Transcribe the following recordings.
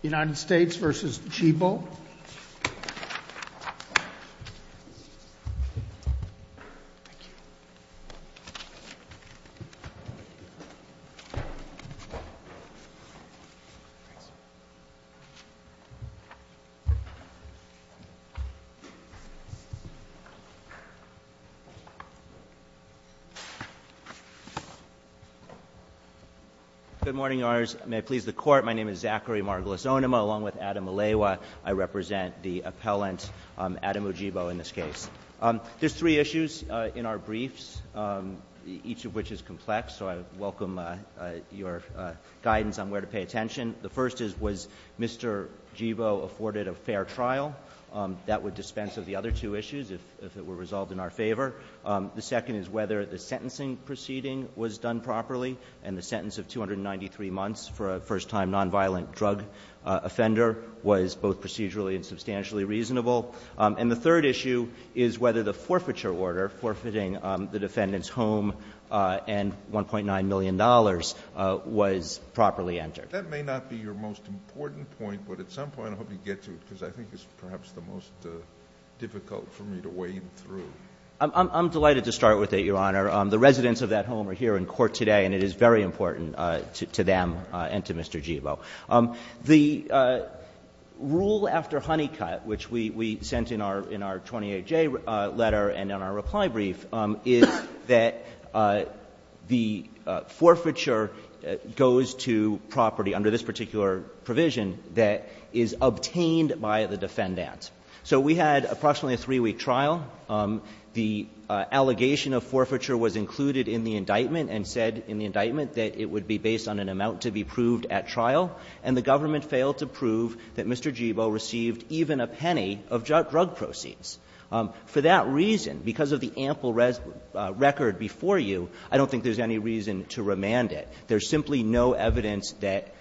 United States v. Djibo Good morning, may I please the court, my name is Zachary Margolisonema along with Adam Aleiwa. I represent the appellant Adam Djibo in this case. There's three issues in our briefs, each of which is complex, so I welcome your guidance on where to pay attention. The first is, was Mr. Djibo afforded a fair trial? That would dispense of the other two issues if it were resolved in our favor. The second is whether the sentencing proceeding was done properly and the sentence of 293 months for a first-time nonviolent drug offender was both procedurally and substantially reasonable. And the third issue is whether the forfeiture order forfeiting the defendant's home and $1.9 million was properly entered. That may not be your most important point, but at some point I hope you get to it because I think it's perhaps the most difficult for me to wade through. I'm delighted to start with it, Your Honor. The residents of that home are here in court today, and it is very important to them and to Mr. Djibo. The rule after Honeycutt, which we sent in our 28J letter and in our reply brief, is that the forfeiture goes to property under this particular provision that is obtained by the defendant. So we had approximately a three-week trial. The allegation of forfeiture was included in the indictment and said in the indictment that it would be based on an amount to be proved at trial, and the government failed to prove that Mr. Djibo received even a penny of drug proceeds. For that reason, because of the ample record before you, I don't think there's any reason to remand it. There's simply no evidence that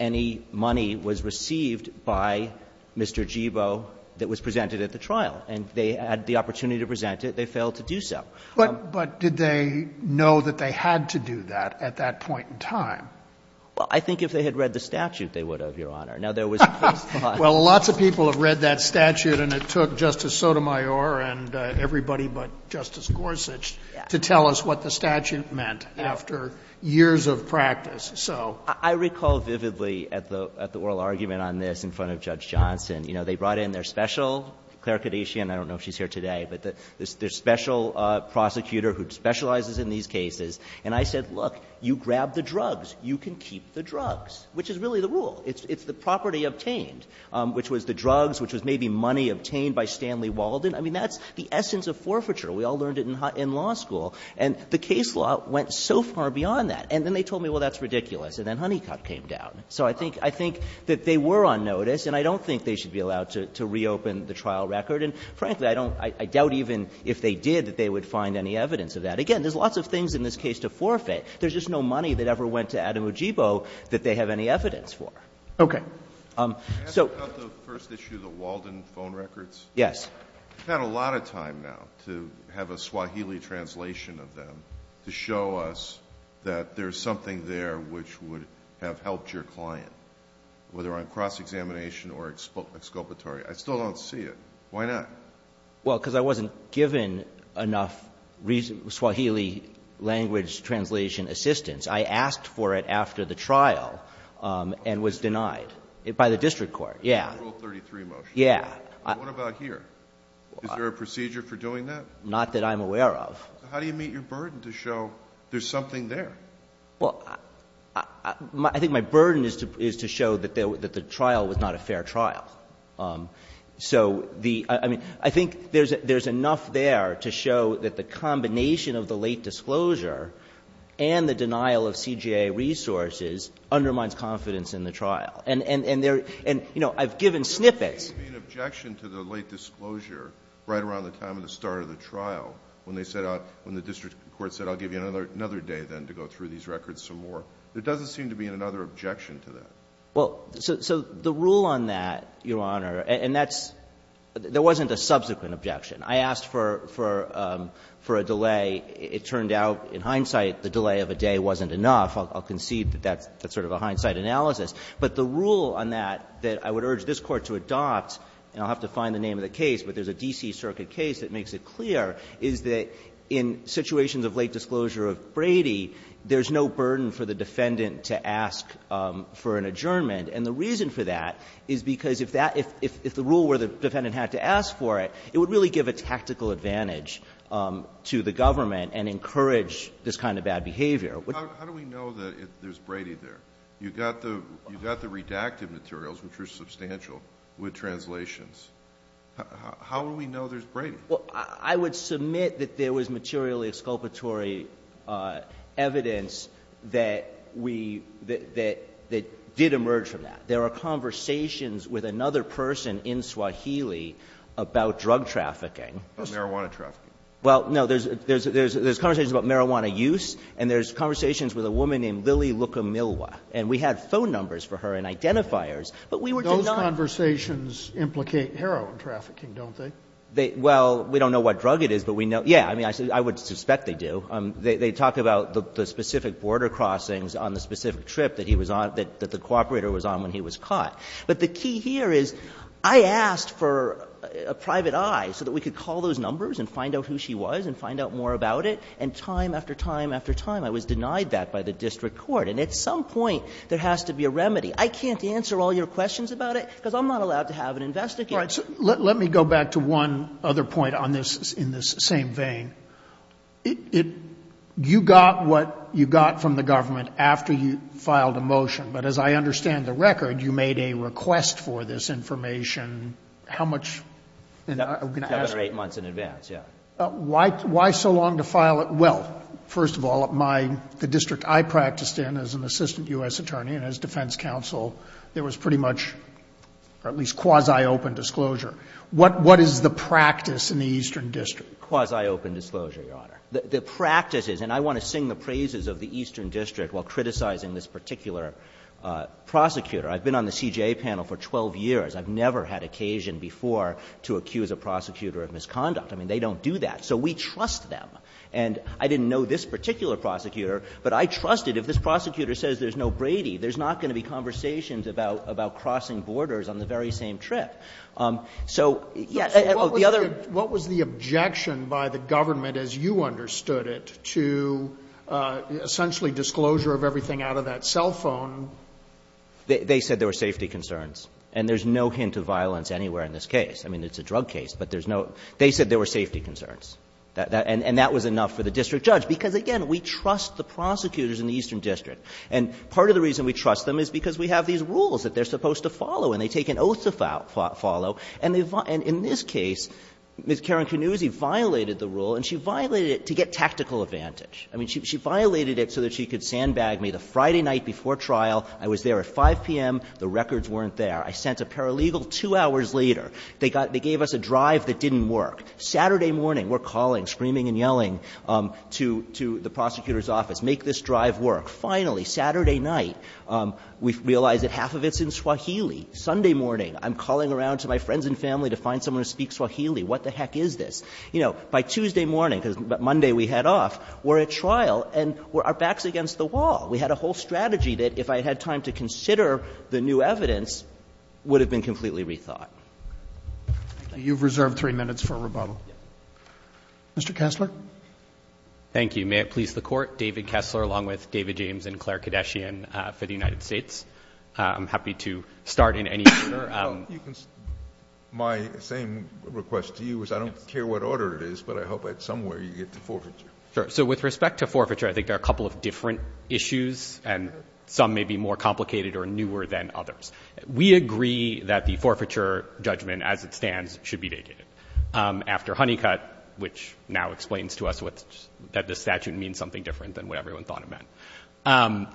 any money was received by Mr. Djibo that was presented at the trial, and they had the opportunity to present it. They failed to do so. But did they know that they had to do that at that point in time? Well, I think if they had read the statute, they would have, Your Honor. Now, there was a case in Ohio. Well, lots of people have read that statute, and it took Justice Sotomayor and everybody but Justice Gorsuch to tell us what the statute meant after years of practice. So — I recall vividly at the oral argument on this in front of Judge Johnson, you know, they brought in their special clerk, and I don't know if she's here today, but their special prosecutor who specializes in these cases, and I said, look, you grab the drugs. You can keep the drugs, which is really the rule. It's the property obtained, which was the drugs, which was maybe money obtained by Stanley Walden. I mean, that's the essence of forfeiture. We all learned it in law school. And the case law went so far beyond that. And then they told me, well, that's ridiculous. And then Honeycutt came down. So I think that they were on notice, and I don't think they should be allowed to reopen the trial record. And frankly, I don't — I doubt even if they did that they would find any evidence of that. Again, there's lots of things in this case to forfeit. There's just no money that ever went to Adamujibo that they have any evidence for. Okay. So — Can I ask about the first issue, the Walden phone records? Yes. We've had a lot of time now to have a Swahili translation of them to show us that there's something there which would have helped your client, whether on cross examination or exculpatory. I still don't see it. Why not? Well, because I wasn't given enough Swahili language translation assistance. I asked for it after the trial and was denied by the district court. Yeah. Rule 33 motion. Yeah. What about here? Is there a procedure for doing that? Not that I'm aware of. How do you meet your burden to show there's something there? Well, I think my burden is to show that the trial was not a fair trial. So the — I mean, I think there's enough there to show that the combination of the late disclosure and the denial of CJA resources undermines confidence in the trial. And there — and, you know, I've given snippets — There would be an objection to the late disclosure right around the time of the start of the trial, when they set out — when the district court said, I'll give you another day then to go through these records some more. There doesn't seem to be another objection to that. Well, so the rule on that, Your Honor — and that's — there wasn't a subsequent objection. I asked for a delay. It turned out, in hindsight, the delay of a day wasn't enough. I'll concede that that's sort of a hindsight analysis. But the rule on that, that I would urge this Court to adopt — and I'll have to find the name of the case, but there's a D.C. Circuit case that makes it clear — is that in situations of late disclosure of Brady, there's no burden for the defendant to ask for an adjournment. And the reason for that is because if that — if the rule were the defendant had to ask for it, it would really give a tactical advantage to the government and encourage this kind of bad behavior. How do we know that there's Brady there? You've got the — you've got the redacted materials, which are substantial, with translations. How do we know there's Brady? Well, I would submit that there was materially exculpatory evidence that we — that did emerge from that. There are conversations with another person in Swahili about drug trafficking. About marijuana trafficking. Well, no, there's conversations about marijuana use, and there's conversations with a woman named Lily Luka Milwa. And we had phone numbers for her and identifiers, but we were denied — Those conversations implicate heroin trafficking, don't they? They — well, we don't know what drug it is, but we know — yeah. I mean, I would suspect they do. They talk about the specific border crossings on the specific trip that he was on — that the cooperator was on when he was caught. But the key here is I asked for a private eye so that we could call those numbers and find out who she was and find out more about it. And time after time after time, I was denied that by the district court. And at some point, there has to be a remedy. I can't answer all your questions about it because I'm not allowed to have an investigator. All right. Let me go back to one other point on this in this same vein. It — you got what you got from the government after you filed a motion. But as I understand the record, you made a request for this information. How much — Another eight months in advance, yeah. Why so long to file it? Well, first of all, my — the district I practiced in as an assistant U.S. attorney and as defense counsel, there was pretty much at least quasi-open disclosure. What is the practice in the Eastern District? Quasi-open disclosure, Your Honor. The practice is — and I want to sing the praises of the Eastern District while criticizing this particular prosecutor. I've been on the CJA panel for 12 years. I've never had occasion before to accuse a prosecutor of misconduct. I mean, they don't do that. So we trust them. And I didn't know this particular prosecutor, but I trusted if this prosecutor says there's no Brady, there's not going to be conversations about crossing borders on the very same trip. So, yes, the other — What was the objection by the government, as you understood it, to essentially disclosure of everything out of that cell phone? They said there were safety concerns. And there's no hint of violence anywhere in this case. I mean, it's a drug case, but there's no — They said there were safety concerns. And that was enough for the district judge. Because, again, we trust the prosecutors in the Eastern District. And part of the reason we trust them is because we have these rules that they're supposed to follow. And they take an oath to follow. And in this case, Ms. Karen Canuzzi violated the rule, and she violated it to get tactical advantage. I mean, she violated it so that she could sandbag me the Friday night before trial. I was there at 5 p.m. The records weren't there. I sent a paralegal two hours later. They gave us a drive that didn't work. Saturday morning, we're calling, screaming and yelling to the prosecutor's office, make this drive work. Finally, Saturday night, we realize that half of it's in Swahili. Sunday morning, I'm calling around to my friends and family to find someone who speaks Swahili. What the heck is this? You know, by Tuesday morning, because Monday we head off, we're at trial, and our back's against the wall. We had a whole strategy that, if I had time to consider the new evidence, would have been completely rethought. Roberts. Thank you. Roberts. You've reserved three minutes for rebuttal. Roberts. Yes. Roberts. Mr. Kessler. Kessler. Thank you. May it please the Court, David Kessler, along with David James and Claire Kadeshian for the United States. I'm happy to start in any order. Kessler. My same request to you is I don't care what order it is, but I hope at some way you get to forfeiture. Kessler. Sure. So with respect to forfeiture, I think there are a couple of different issues, and some may be more complicated or newer than others. We agree that the forfeiture judgment, as it stands, should be vacated after Honeycutt, which now explains to us that the statute means something different than what everyone thought it meant.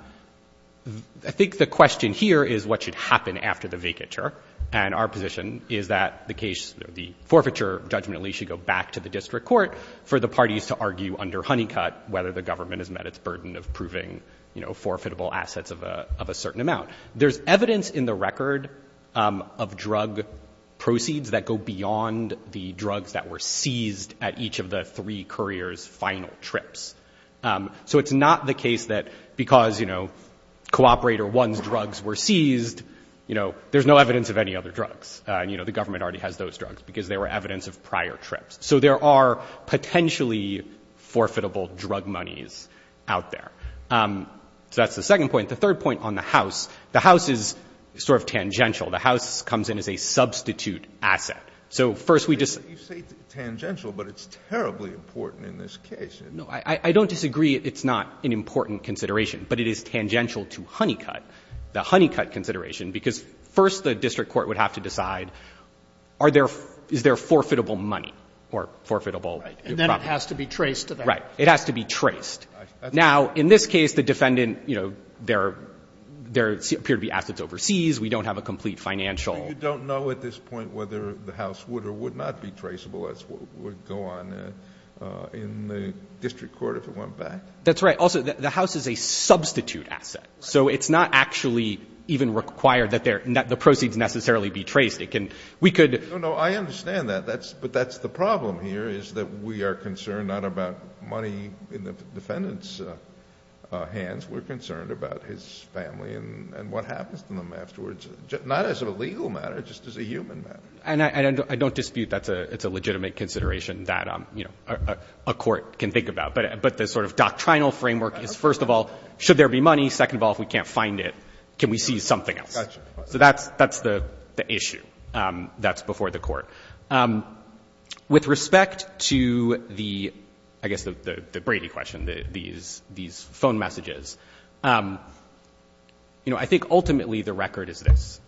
I think the question here is what should happen after the vacature, and our position is that the case, the forfeiture judgment, at least, should go back to the district court for the parties to argue under Honeycutt whether the government has met its burden of proving, you know, forfeitable assets of a certain amount. There's evidence in the record of drug proceeds that go beyond the drugs that were seized at each of the three couriers' final trips. So it's not the case that because, you know, Cooperator 1's drugs were seized, you know, there's no evidence of any other drugs. You know, the government already has those drugs because they were evidence of prior trips. So there are potentially forfeitable drug monies out there. So that's the second point. The third point on the house, the house is sort of tangential. The house comes in as a substitute asset. So first we just ---- Kennedy, you say tangential, but it's terribly important in this case. No. I don't disagree it's not an important consideration, but it is tangential to Honeycutt, the Honeycutt consideration, because first the district court would have to decide are there ---- is there forfeitable money or forfeitable ---- And then it has to be traced to the house. Right. It has to be traced. Now, in this case, the defendant, you know, there appear to be assets overseas. We don't have a complete financial ---- So you don't know at this point whether the house would or would not be traceable as would go on in the district court if it went back? That's right. Also, the house is a substitute asset. So it's not actually even required that the proceeds necessarily be traced. It can ---- we could ---- No, no. I understand that. But that's the problem here is that we are concerned not about money in the defendant's hands. We're concerned about his family and what happens to them afterwards, not as a legal matter, just as a human matter. And I don't dispute that's a legitimate consideration that, you know, a court can think about. But the sort of doctrinal framework is, first of all, should there be money? Second of all, if we can't find it, can we see something else? Gotcha. So that's the issue that's before the court. With respect to the, I guess, the Brady question, these phone messages, you know, I think ultimately the record is this.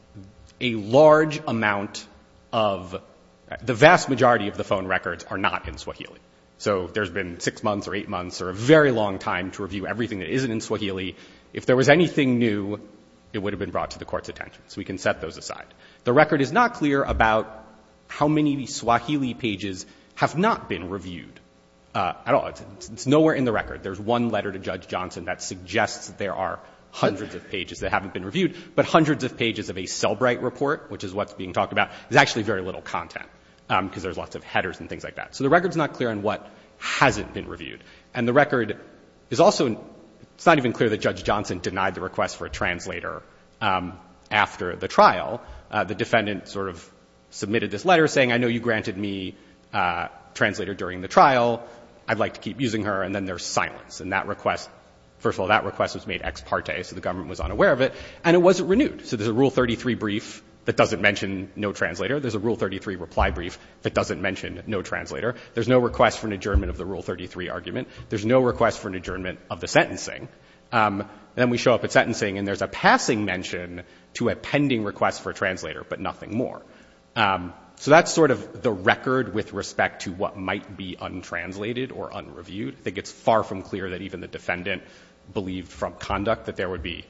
A large amount of the vast majority of the phone records are not in Swahili. So there's been six months or eight months or a very long time to review everything that isn't in Swahili. If there was anything new, it would have been brought to the court's attention. So we can set those aside. The record is not clear about how many Swahili pages have not been reviewed at all. It's nowhere in the record. There's one letter to Judge Johnson that suggests there are hundreds of pages that haven't been reviewed. But hundreds of pages of a Selbright report, which is what's being talked about, there's actually very little content because there's lots of headers and things like that. So the record's not clear on what hasn't been reviewed. And the record is also, it's not even clear that Judge Johnson denied the request for a translator after the trial. The defendant sort of submitted this letter saying, I know you granted me a translator during the trial. I'd like to keep using her. And then there's silence. And that request, first of all, that request was made ex parte, so the government was unaware of it. And it wasn't renewed. So there's a Rule 33 brief that doesn't mention no translator. There's a Rule 33 reply brief that doesn't mention no translator. There's no request for an adjournment of the Rule 33 argument. There's no request for an adjournment of the sentencing. Then we show up at sentencing and there's a passing mention to a pending request for a translator, but nothing more. So that's sort of the record with respect to what might be untranslated or unreviewed. I think it's far from clear that even the defendant believed from conduct that there would be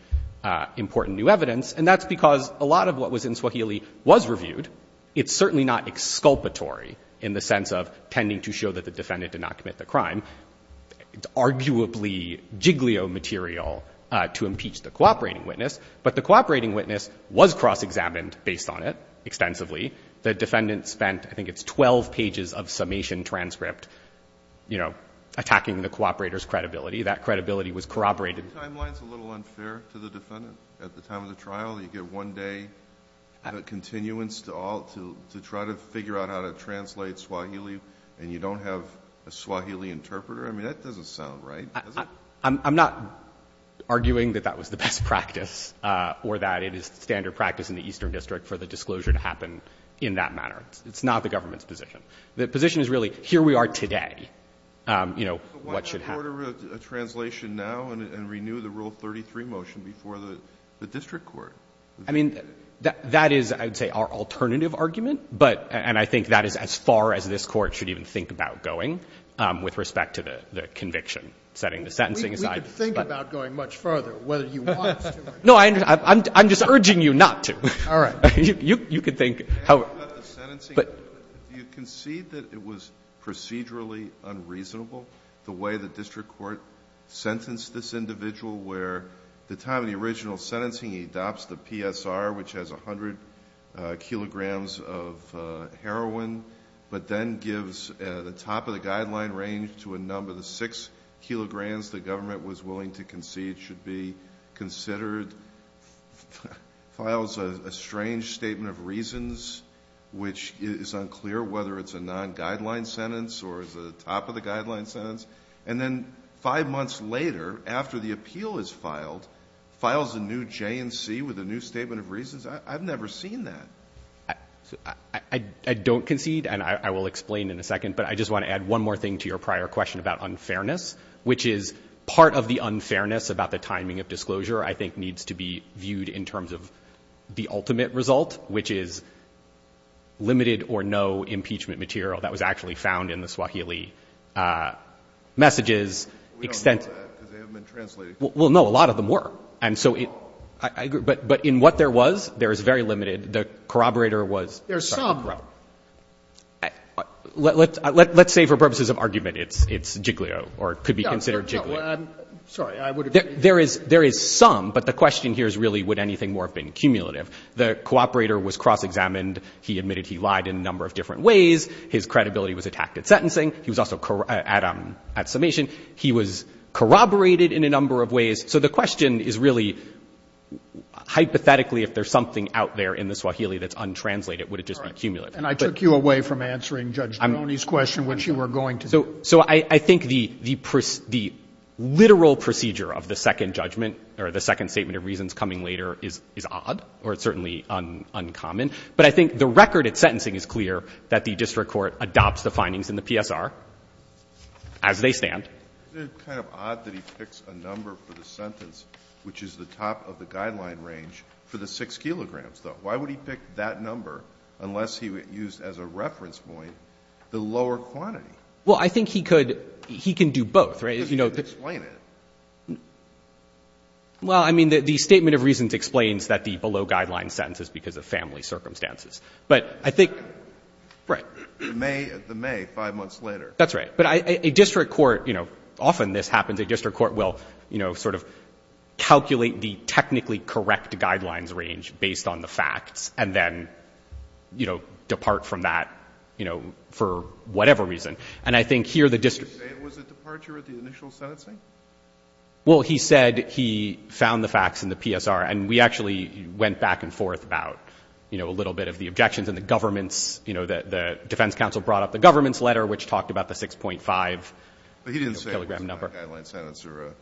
important new evidence. And that's because a lot of what was in Swahili was reviewed. It's certainly not exculpatory in the sense of pending to show that the defendant did not commit the crime. It's arguably jigglio material to impeach the cooperating witness, but the cooperating witness was cross-examined based on it extensively. The defendant spent, I think it's 12 pages of summation transcript, you know, attacking the cooperator's credibility. That credibility was corroborated. The timeline's a little unfair to the defendant at the time of the trial. You get one day of continuance to try to figure out how to translate Swahili and you don't have a Swahili interpreter. I mean, that doesn't sound right, does it? I'm not arguing that that was the best practice or that it is standard practice in the Eastern District for the disclosure to happen in that manner. It's not the government's position. The position is really here we are today, you know, what should happen. Why not order a translation now and renew the Rule 33 motion before the district court? I mean, that is, I would say, our alternative argument, and I think that is as far as this Court should even think about going with respect to the conviction, setting the sentencing aside. We could think about going much further, whether you want us to or not. No, I'm just urging you not to. All right. You can think however. You concede that it was procedurally unreasonable, the way the district court sentenced this individual, where at the time of the original sentencing he adopts the PSR, which has 100 kilograms of heroin, but then gives the top of the guideline range to a number, the 6 kilograms the government was willing to concede should be considered, files a strange statement of reasons, which is unclear whether it's a non-guideline sentence or is it a top-of-the-guideline sentence, and then five months later, after the appeal is filed, files a new J&C with a new statement of reasons? I've never seen that. I don't concede, and I will explain in a second, but I just want to add one more thing to your prior question about unfairness, which is part of the unfairness about the timing of disclosure, I think, needs to be viewed in terms of the ultimate result, which is limited or no impeachment material that was actually found in the Swahili messages. We don't know that because they haven't been translated. Well, no, a lot of them were, and so I agree, but in what there was, there is very limited. The corroborator was certainly corrupt. There's some. Let's say for purposes of argument it's Jiglio, or it could be considered Jiglio. Sorry. There is some, but the question here is really would anything more have been cumulative? The corroborator was cross-examined. He admitted he lied in a number of different ways. His credibility was attacked at sentencing. He was also at summation. He was corroborated in a number of ways. So the question is really, hypothetically, if there's something out there in the Swahili that's untranslated, would it just be cumulative? And I took you away from answering Judge Domeni's question, which you were going to. So I think the literal procedure of the second judgment or the second statement of reasons coming later is odd, or it's certainly uncommon. But I think the record at sentencing is clear, that the district court adopts the findings in the PSR as they stand. It's kind of odd that he picks a number for the sentence, which is the top of the guideline range, for the 6 kilograms, though. Why would he pick that number unless he used as a reference point the lower quantity? Well, I think he could do both, right? Because he couldn't explain it. Well, I mean, the statement of reasons explains that the below-guideline sentence is because of family circumstances. But I think, right. The May, 5 months later. That's right. But a district court, you know, often this happens. A district court will, you know, sort of calculate the technically correct guidelines range based on the facts and then, you know, depart from that, you know, for whatever reason. And I think here the district court. Did he say it was a departure at the initial sentencing? Well, he said he found the facts in the PSR, and we actually went back and forth about, you know, a little bit of the objections in the government's, you know, the defense counsel brought up the government's letter, which talked about the 6.5 kilogram number. But he didn't say it was a below-guideline sentence or a...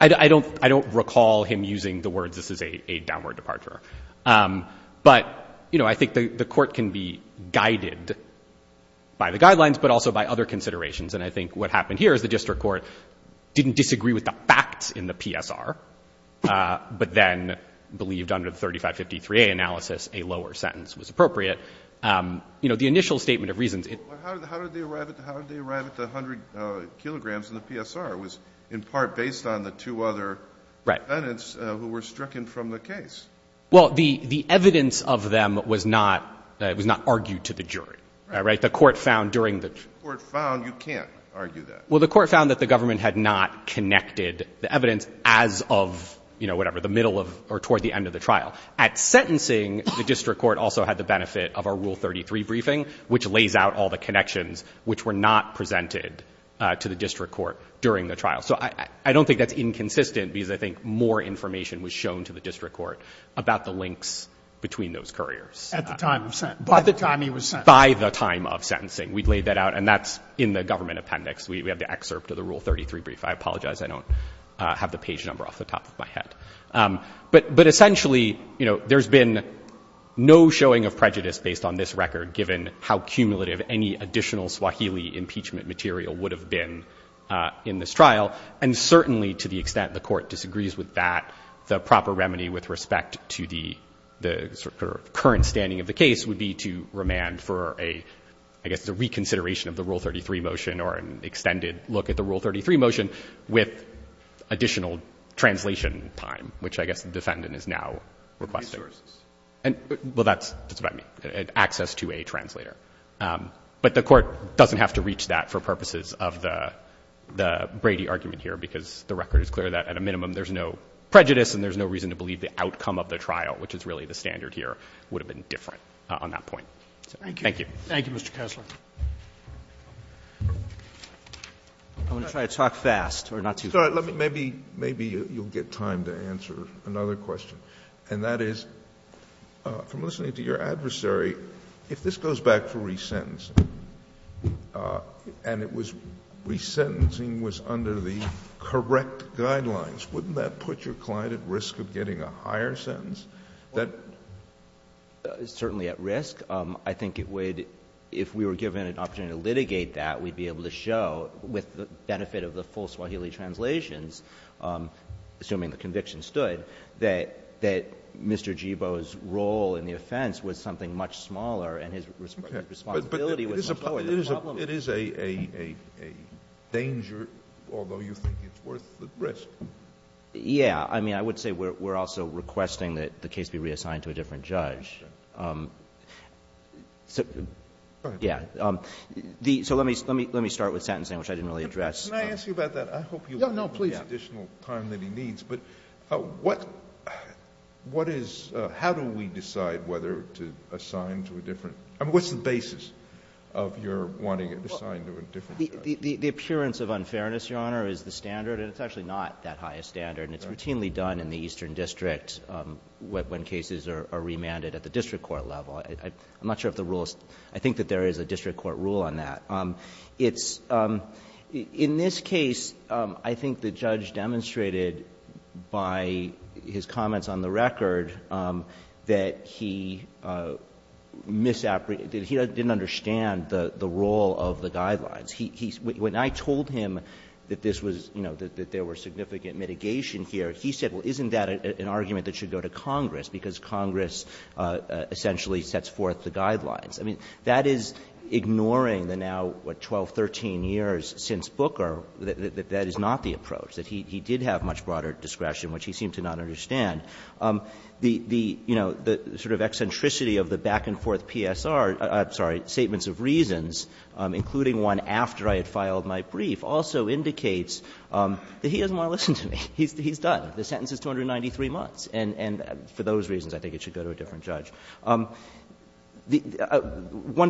I don't recall him using the words this is a downward departure. But, you know, I think the court can be guided by the guidelines, but also by other considerations. And I think what happened here is the district court didn't disagree with the facts in the PSR, but then believed under the 3553A analysis, a lower sentence was appropriate. You know, the initial statement of reasons... But how did they arrive at the 100 kilograms in the PSR? It was in part based on the two other defendants who were stricken from the case. Well, the evidence of them was not argued to the jury. Right? The court found during the... The court found you can't argue that. Well, the court found that the government had not connected the evidence as of, you know, whatever, the middle of or toward the end of the trial. At sentencing, the district court also had the benefit of our Rule 33 briefing, which lays out all the connections which were not presented to the district court during the trial. So I don't think that's inconsistent because I think more information was shown to the district court about the links between those couriers. At the time of sentence. By the time he was sentenced. By the time of sentencing. We laid that out. And that's in the government appendix. We have the excerpt of the Rule 33 brief. I apologize. I don't have the page number off the top of my head. But essentially, you know, there's been no showing of prejudice based on this record given how cumulative any additional Swahili impeachment material would have been in this trial. And certainly to the extent the court disagrees with that, the proper remedy with respect to the current standing of the case would be to look at the Rule 33 motion with additional translation time, which I guess the defendant is now requesting. Well, that's just about me. Access to a translator. But the court doesn't have to reach that for purposes of the Brady argument here because the record is clear that at a minimum there's no prejudice and there's no reason to believe the outcome of the trial, which is really the standard here, would have been different on that point. Thank you. Thank you, Mr. Kessler. I want to try to talk fast or not too fast. Maybe you'll get time to answer another question. And that is, from listening to your adversary, if this goes back to resentencing and it was resentencing was under the correct guidelines, wouldn't that put your client at risk of getting a higher sentence? Certainly at risk. I think it would, if we were given an opportunity to litigate that, we'd be able to show with the benefit of the full Swahili translations, assuming the conviction stood, that Mr. Jebo's role in the offense was something much smaller and his responsibility was much lower. But it is a danger, although you think it's worth the risk. Yeah. I mean, I would say we're also requesting that the case be reassigned to a different judge. Go ahead. Yeah. So let me start with sentencing, which I didn't really address. Can I ask you about that? I hope you'll give me additional time that he needs. But what is — how do we decide whether to assign to a different — I mean, what's the basis of your wanting it assigned to a different judge? The appearance of unfairness, Your Honor, is the standard, and it's actually not that high a standard. And it's routinely done in the Eastern District when cases are remanded at the district court level. I'm not sure if the rule is — I think that there is a district court rule on that. It's — in this case, I think the judge demonstrated by his comments on the record that he misappreciated — that he didn't understand the role of the guidelines. He — when I told him that this was, you know, that there were significant mitigation here, he said, well, isn't that an argument that should go to Congress, because Congress essentially sets forth the guidelines. I mean, that is ignoring the now, what, 12, 13 years since Booker, that that is not the approach, that he did have much broader discretion, which he seemed to not understand. The — you know, the sort of eccentricity of the back-and-forth PSR — I'm sorry, statements of reasons, including one after I had filed my brief, also indicates that he doesn't want to listen to me. He's done. The sentence is 293 months. And for those reasons, I think it should go to a different judge. One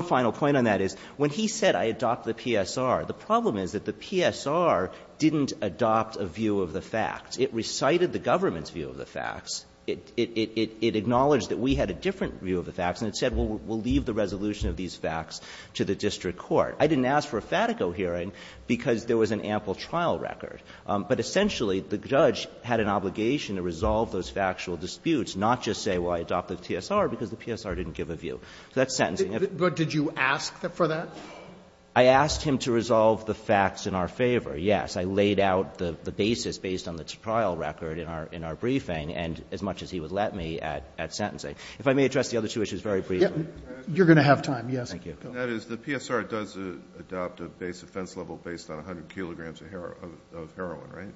final point on that is, when he said, I adopt the PSR, the problem is that the PSR didn't adopt a view of the facts. It recited the government's view of the facts. It acknowledged that we had a different view of the facts, and it said, well, we'll leave the resolution of these facts to the district court. I didn't ask for a Fatico hearing because there was an ample trial record. But essentially, the judge had an obligation to resolve those factual disputes, not just say, well, I adopt the PSR because the PSR didn't give a view. So that's sentencing. If you asked him to resolve the facts in our favor, yes. I laid out the basis based on the trial record in our briefing, and as much as he would let me at sentencing. If I may address the other two issues very briefly. You're going to have time, yes. Thank you. The PSR does adopt a base offense level based on 100 kilograms of heroin, right?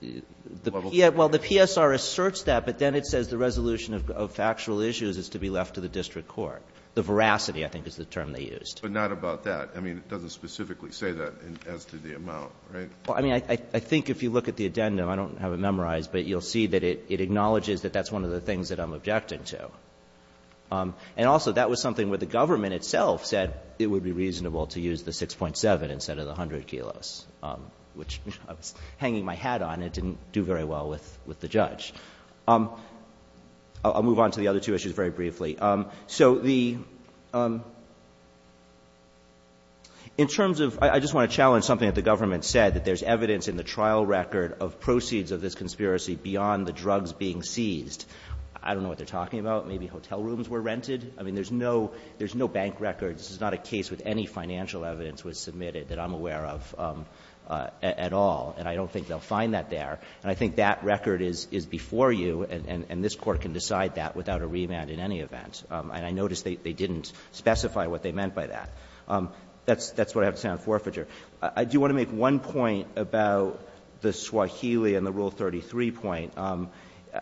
Well, the PSR asserts that, but then it says the resolution of factual issues is to be left to the district court. The veracity, I think, is the term they used. But not about that. I mean, it doesn't specifically say that as to the amount, right? I mean, I think if you look at the addendum, I don't have it memorized, but you'll see that it acknowledges that that's one of the things that I'm objecting to. And also, that was something where the government itself said it would be reasonable to use the 6.7 instead of the 100 kilos, which, you know, I was hanging my hat on. It didn't do very well with the judge. I'll move on to the other two issues very briefly. So the — in terms of — I just want to challenge something that the government said, that there's evidence in the trial record of proceeds of this conspiracy beyond the drugs being seized. I don't know what they're talking about. Maybe hotel rooms were rented. I mean, there's no bank record. This is not a case with any financial evidence was submitted that I'm aware of at all. And I don't think they'll find that there. And I think that record is before you, and this Court can decide that without a remand in any event. And I notice they didn't specify what they meant by that. That's what I have to say on forfeiture. I do want to make one point about the Swahili and the Rule 33 point.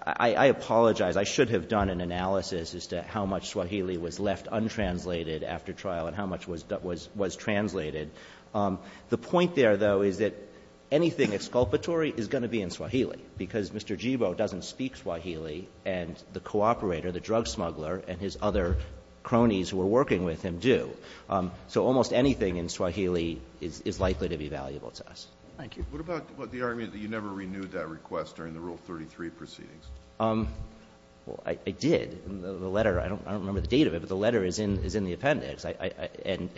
I apologize. I should have done an analysis as to how much Swahili was left untranslated after trial and how much was translated. The point there, though, is that anything exculpatory is going to be in Swahili because Mr. Jebo doesn't speak Swahili, and the cooperator, the drug smuggler and his other cronies who are working with him do. So almost anything in Swahili is likely to be valuable to us. Thank you. What about the argument that you never renewed that request during the Rule 33 proceedings? Well, I did. The letter, I don't remember the date of it, but the letter is in the appendix. And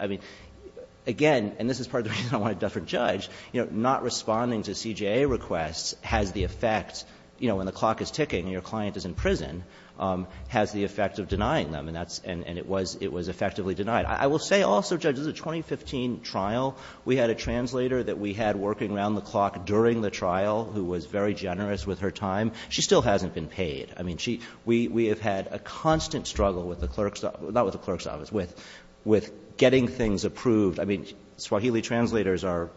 I mean, again, and this is part of the reason I wanted to defer to Judge, not responding to CJA requests has the effect, you know, when the clock is ticking and your client is in prison, has the effect of denying them. And it was effectively denied. I will say also, Judge, this is a 2015 trial. We had a translator that we had working around the clock during the trial who was very generous with her time. She still hasn't been paid. I mean, we have had a constant struggle with the clerk's office, not with the clerk's office, with getting things approved. I mean, Swahili translators are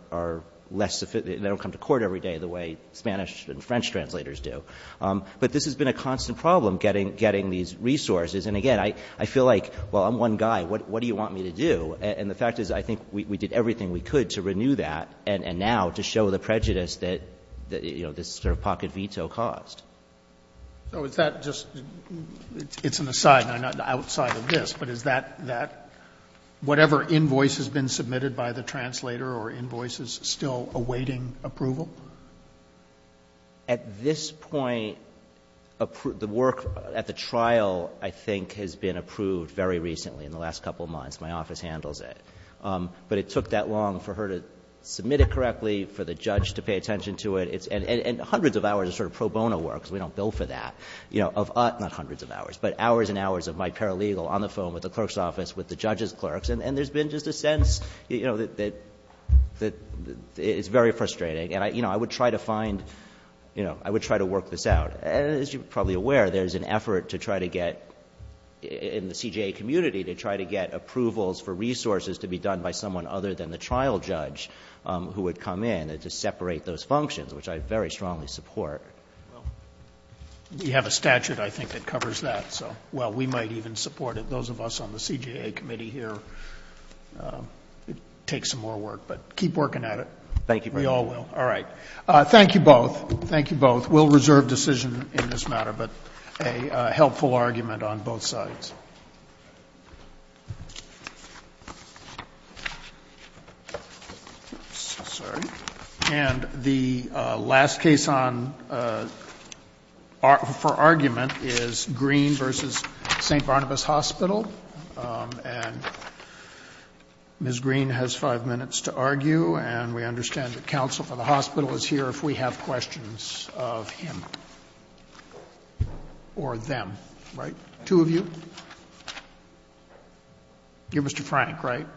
less sufficient. They don't come to court every day the way Spanish and French translators do. But this has been a constant problem, getting these resources. And, again, I feel like, well, I'm one guy. What do you want me to do? And the fact is I think we did everything we could to renew that and now to show the prejudice that, you know, this sort of pocket veto caused. Roberts. So is that just an aside, not outside of this, but is that, whatever invoice has been submitted by the translator or invoice is still awaiting approval? At this point, the work at the trial, I think, has been approved very recently in the last couple of months. My office handles it. But it took that long for her to submit it correctly, for the judge to pay attention to it. And hundreds of hours of sort of pro bono work, because we don't bill for that, of us, not hundreds of hours, but hours and hours of my paralegal on the phone with the clerk's office, with the judge's clerks. And there's been just a sense that it's very frustrating. And I would try to find, you know, I would try to work this out. As you're probably aware, there's an effort to try to get, in the CJA community, to try to get approvals for resources to be done by someone other than the trial judge who would come in to separate those functions, which I very strongly support. Scalia. Well, we have a statute, I think, that covers that. So, well, we might even support it. Those of us on the CJA committee here, it takes some more work. But keep working at it. We all will. All right. Thank you both. Thank you both. We'll reserve decision in this matter, but a helpful argument on both sides. Sorry. And the last case for argument is Green v. St. Barnabas Hospital. And Ms. Green has 5 minutes to argue, and we understand that counsel for the hospital is here if we have questions of him or them. Right? Two of you. You're Mr. Frank, right?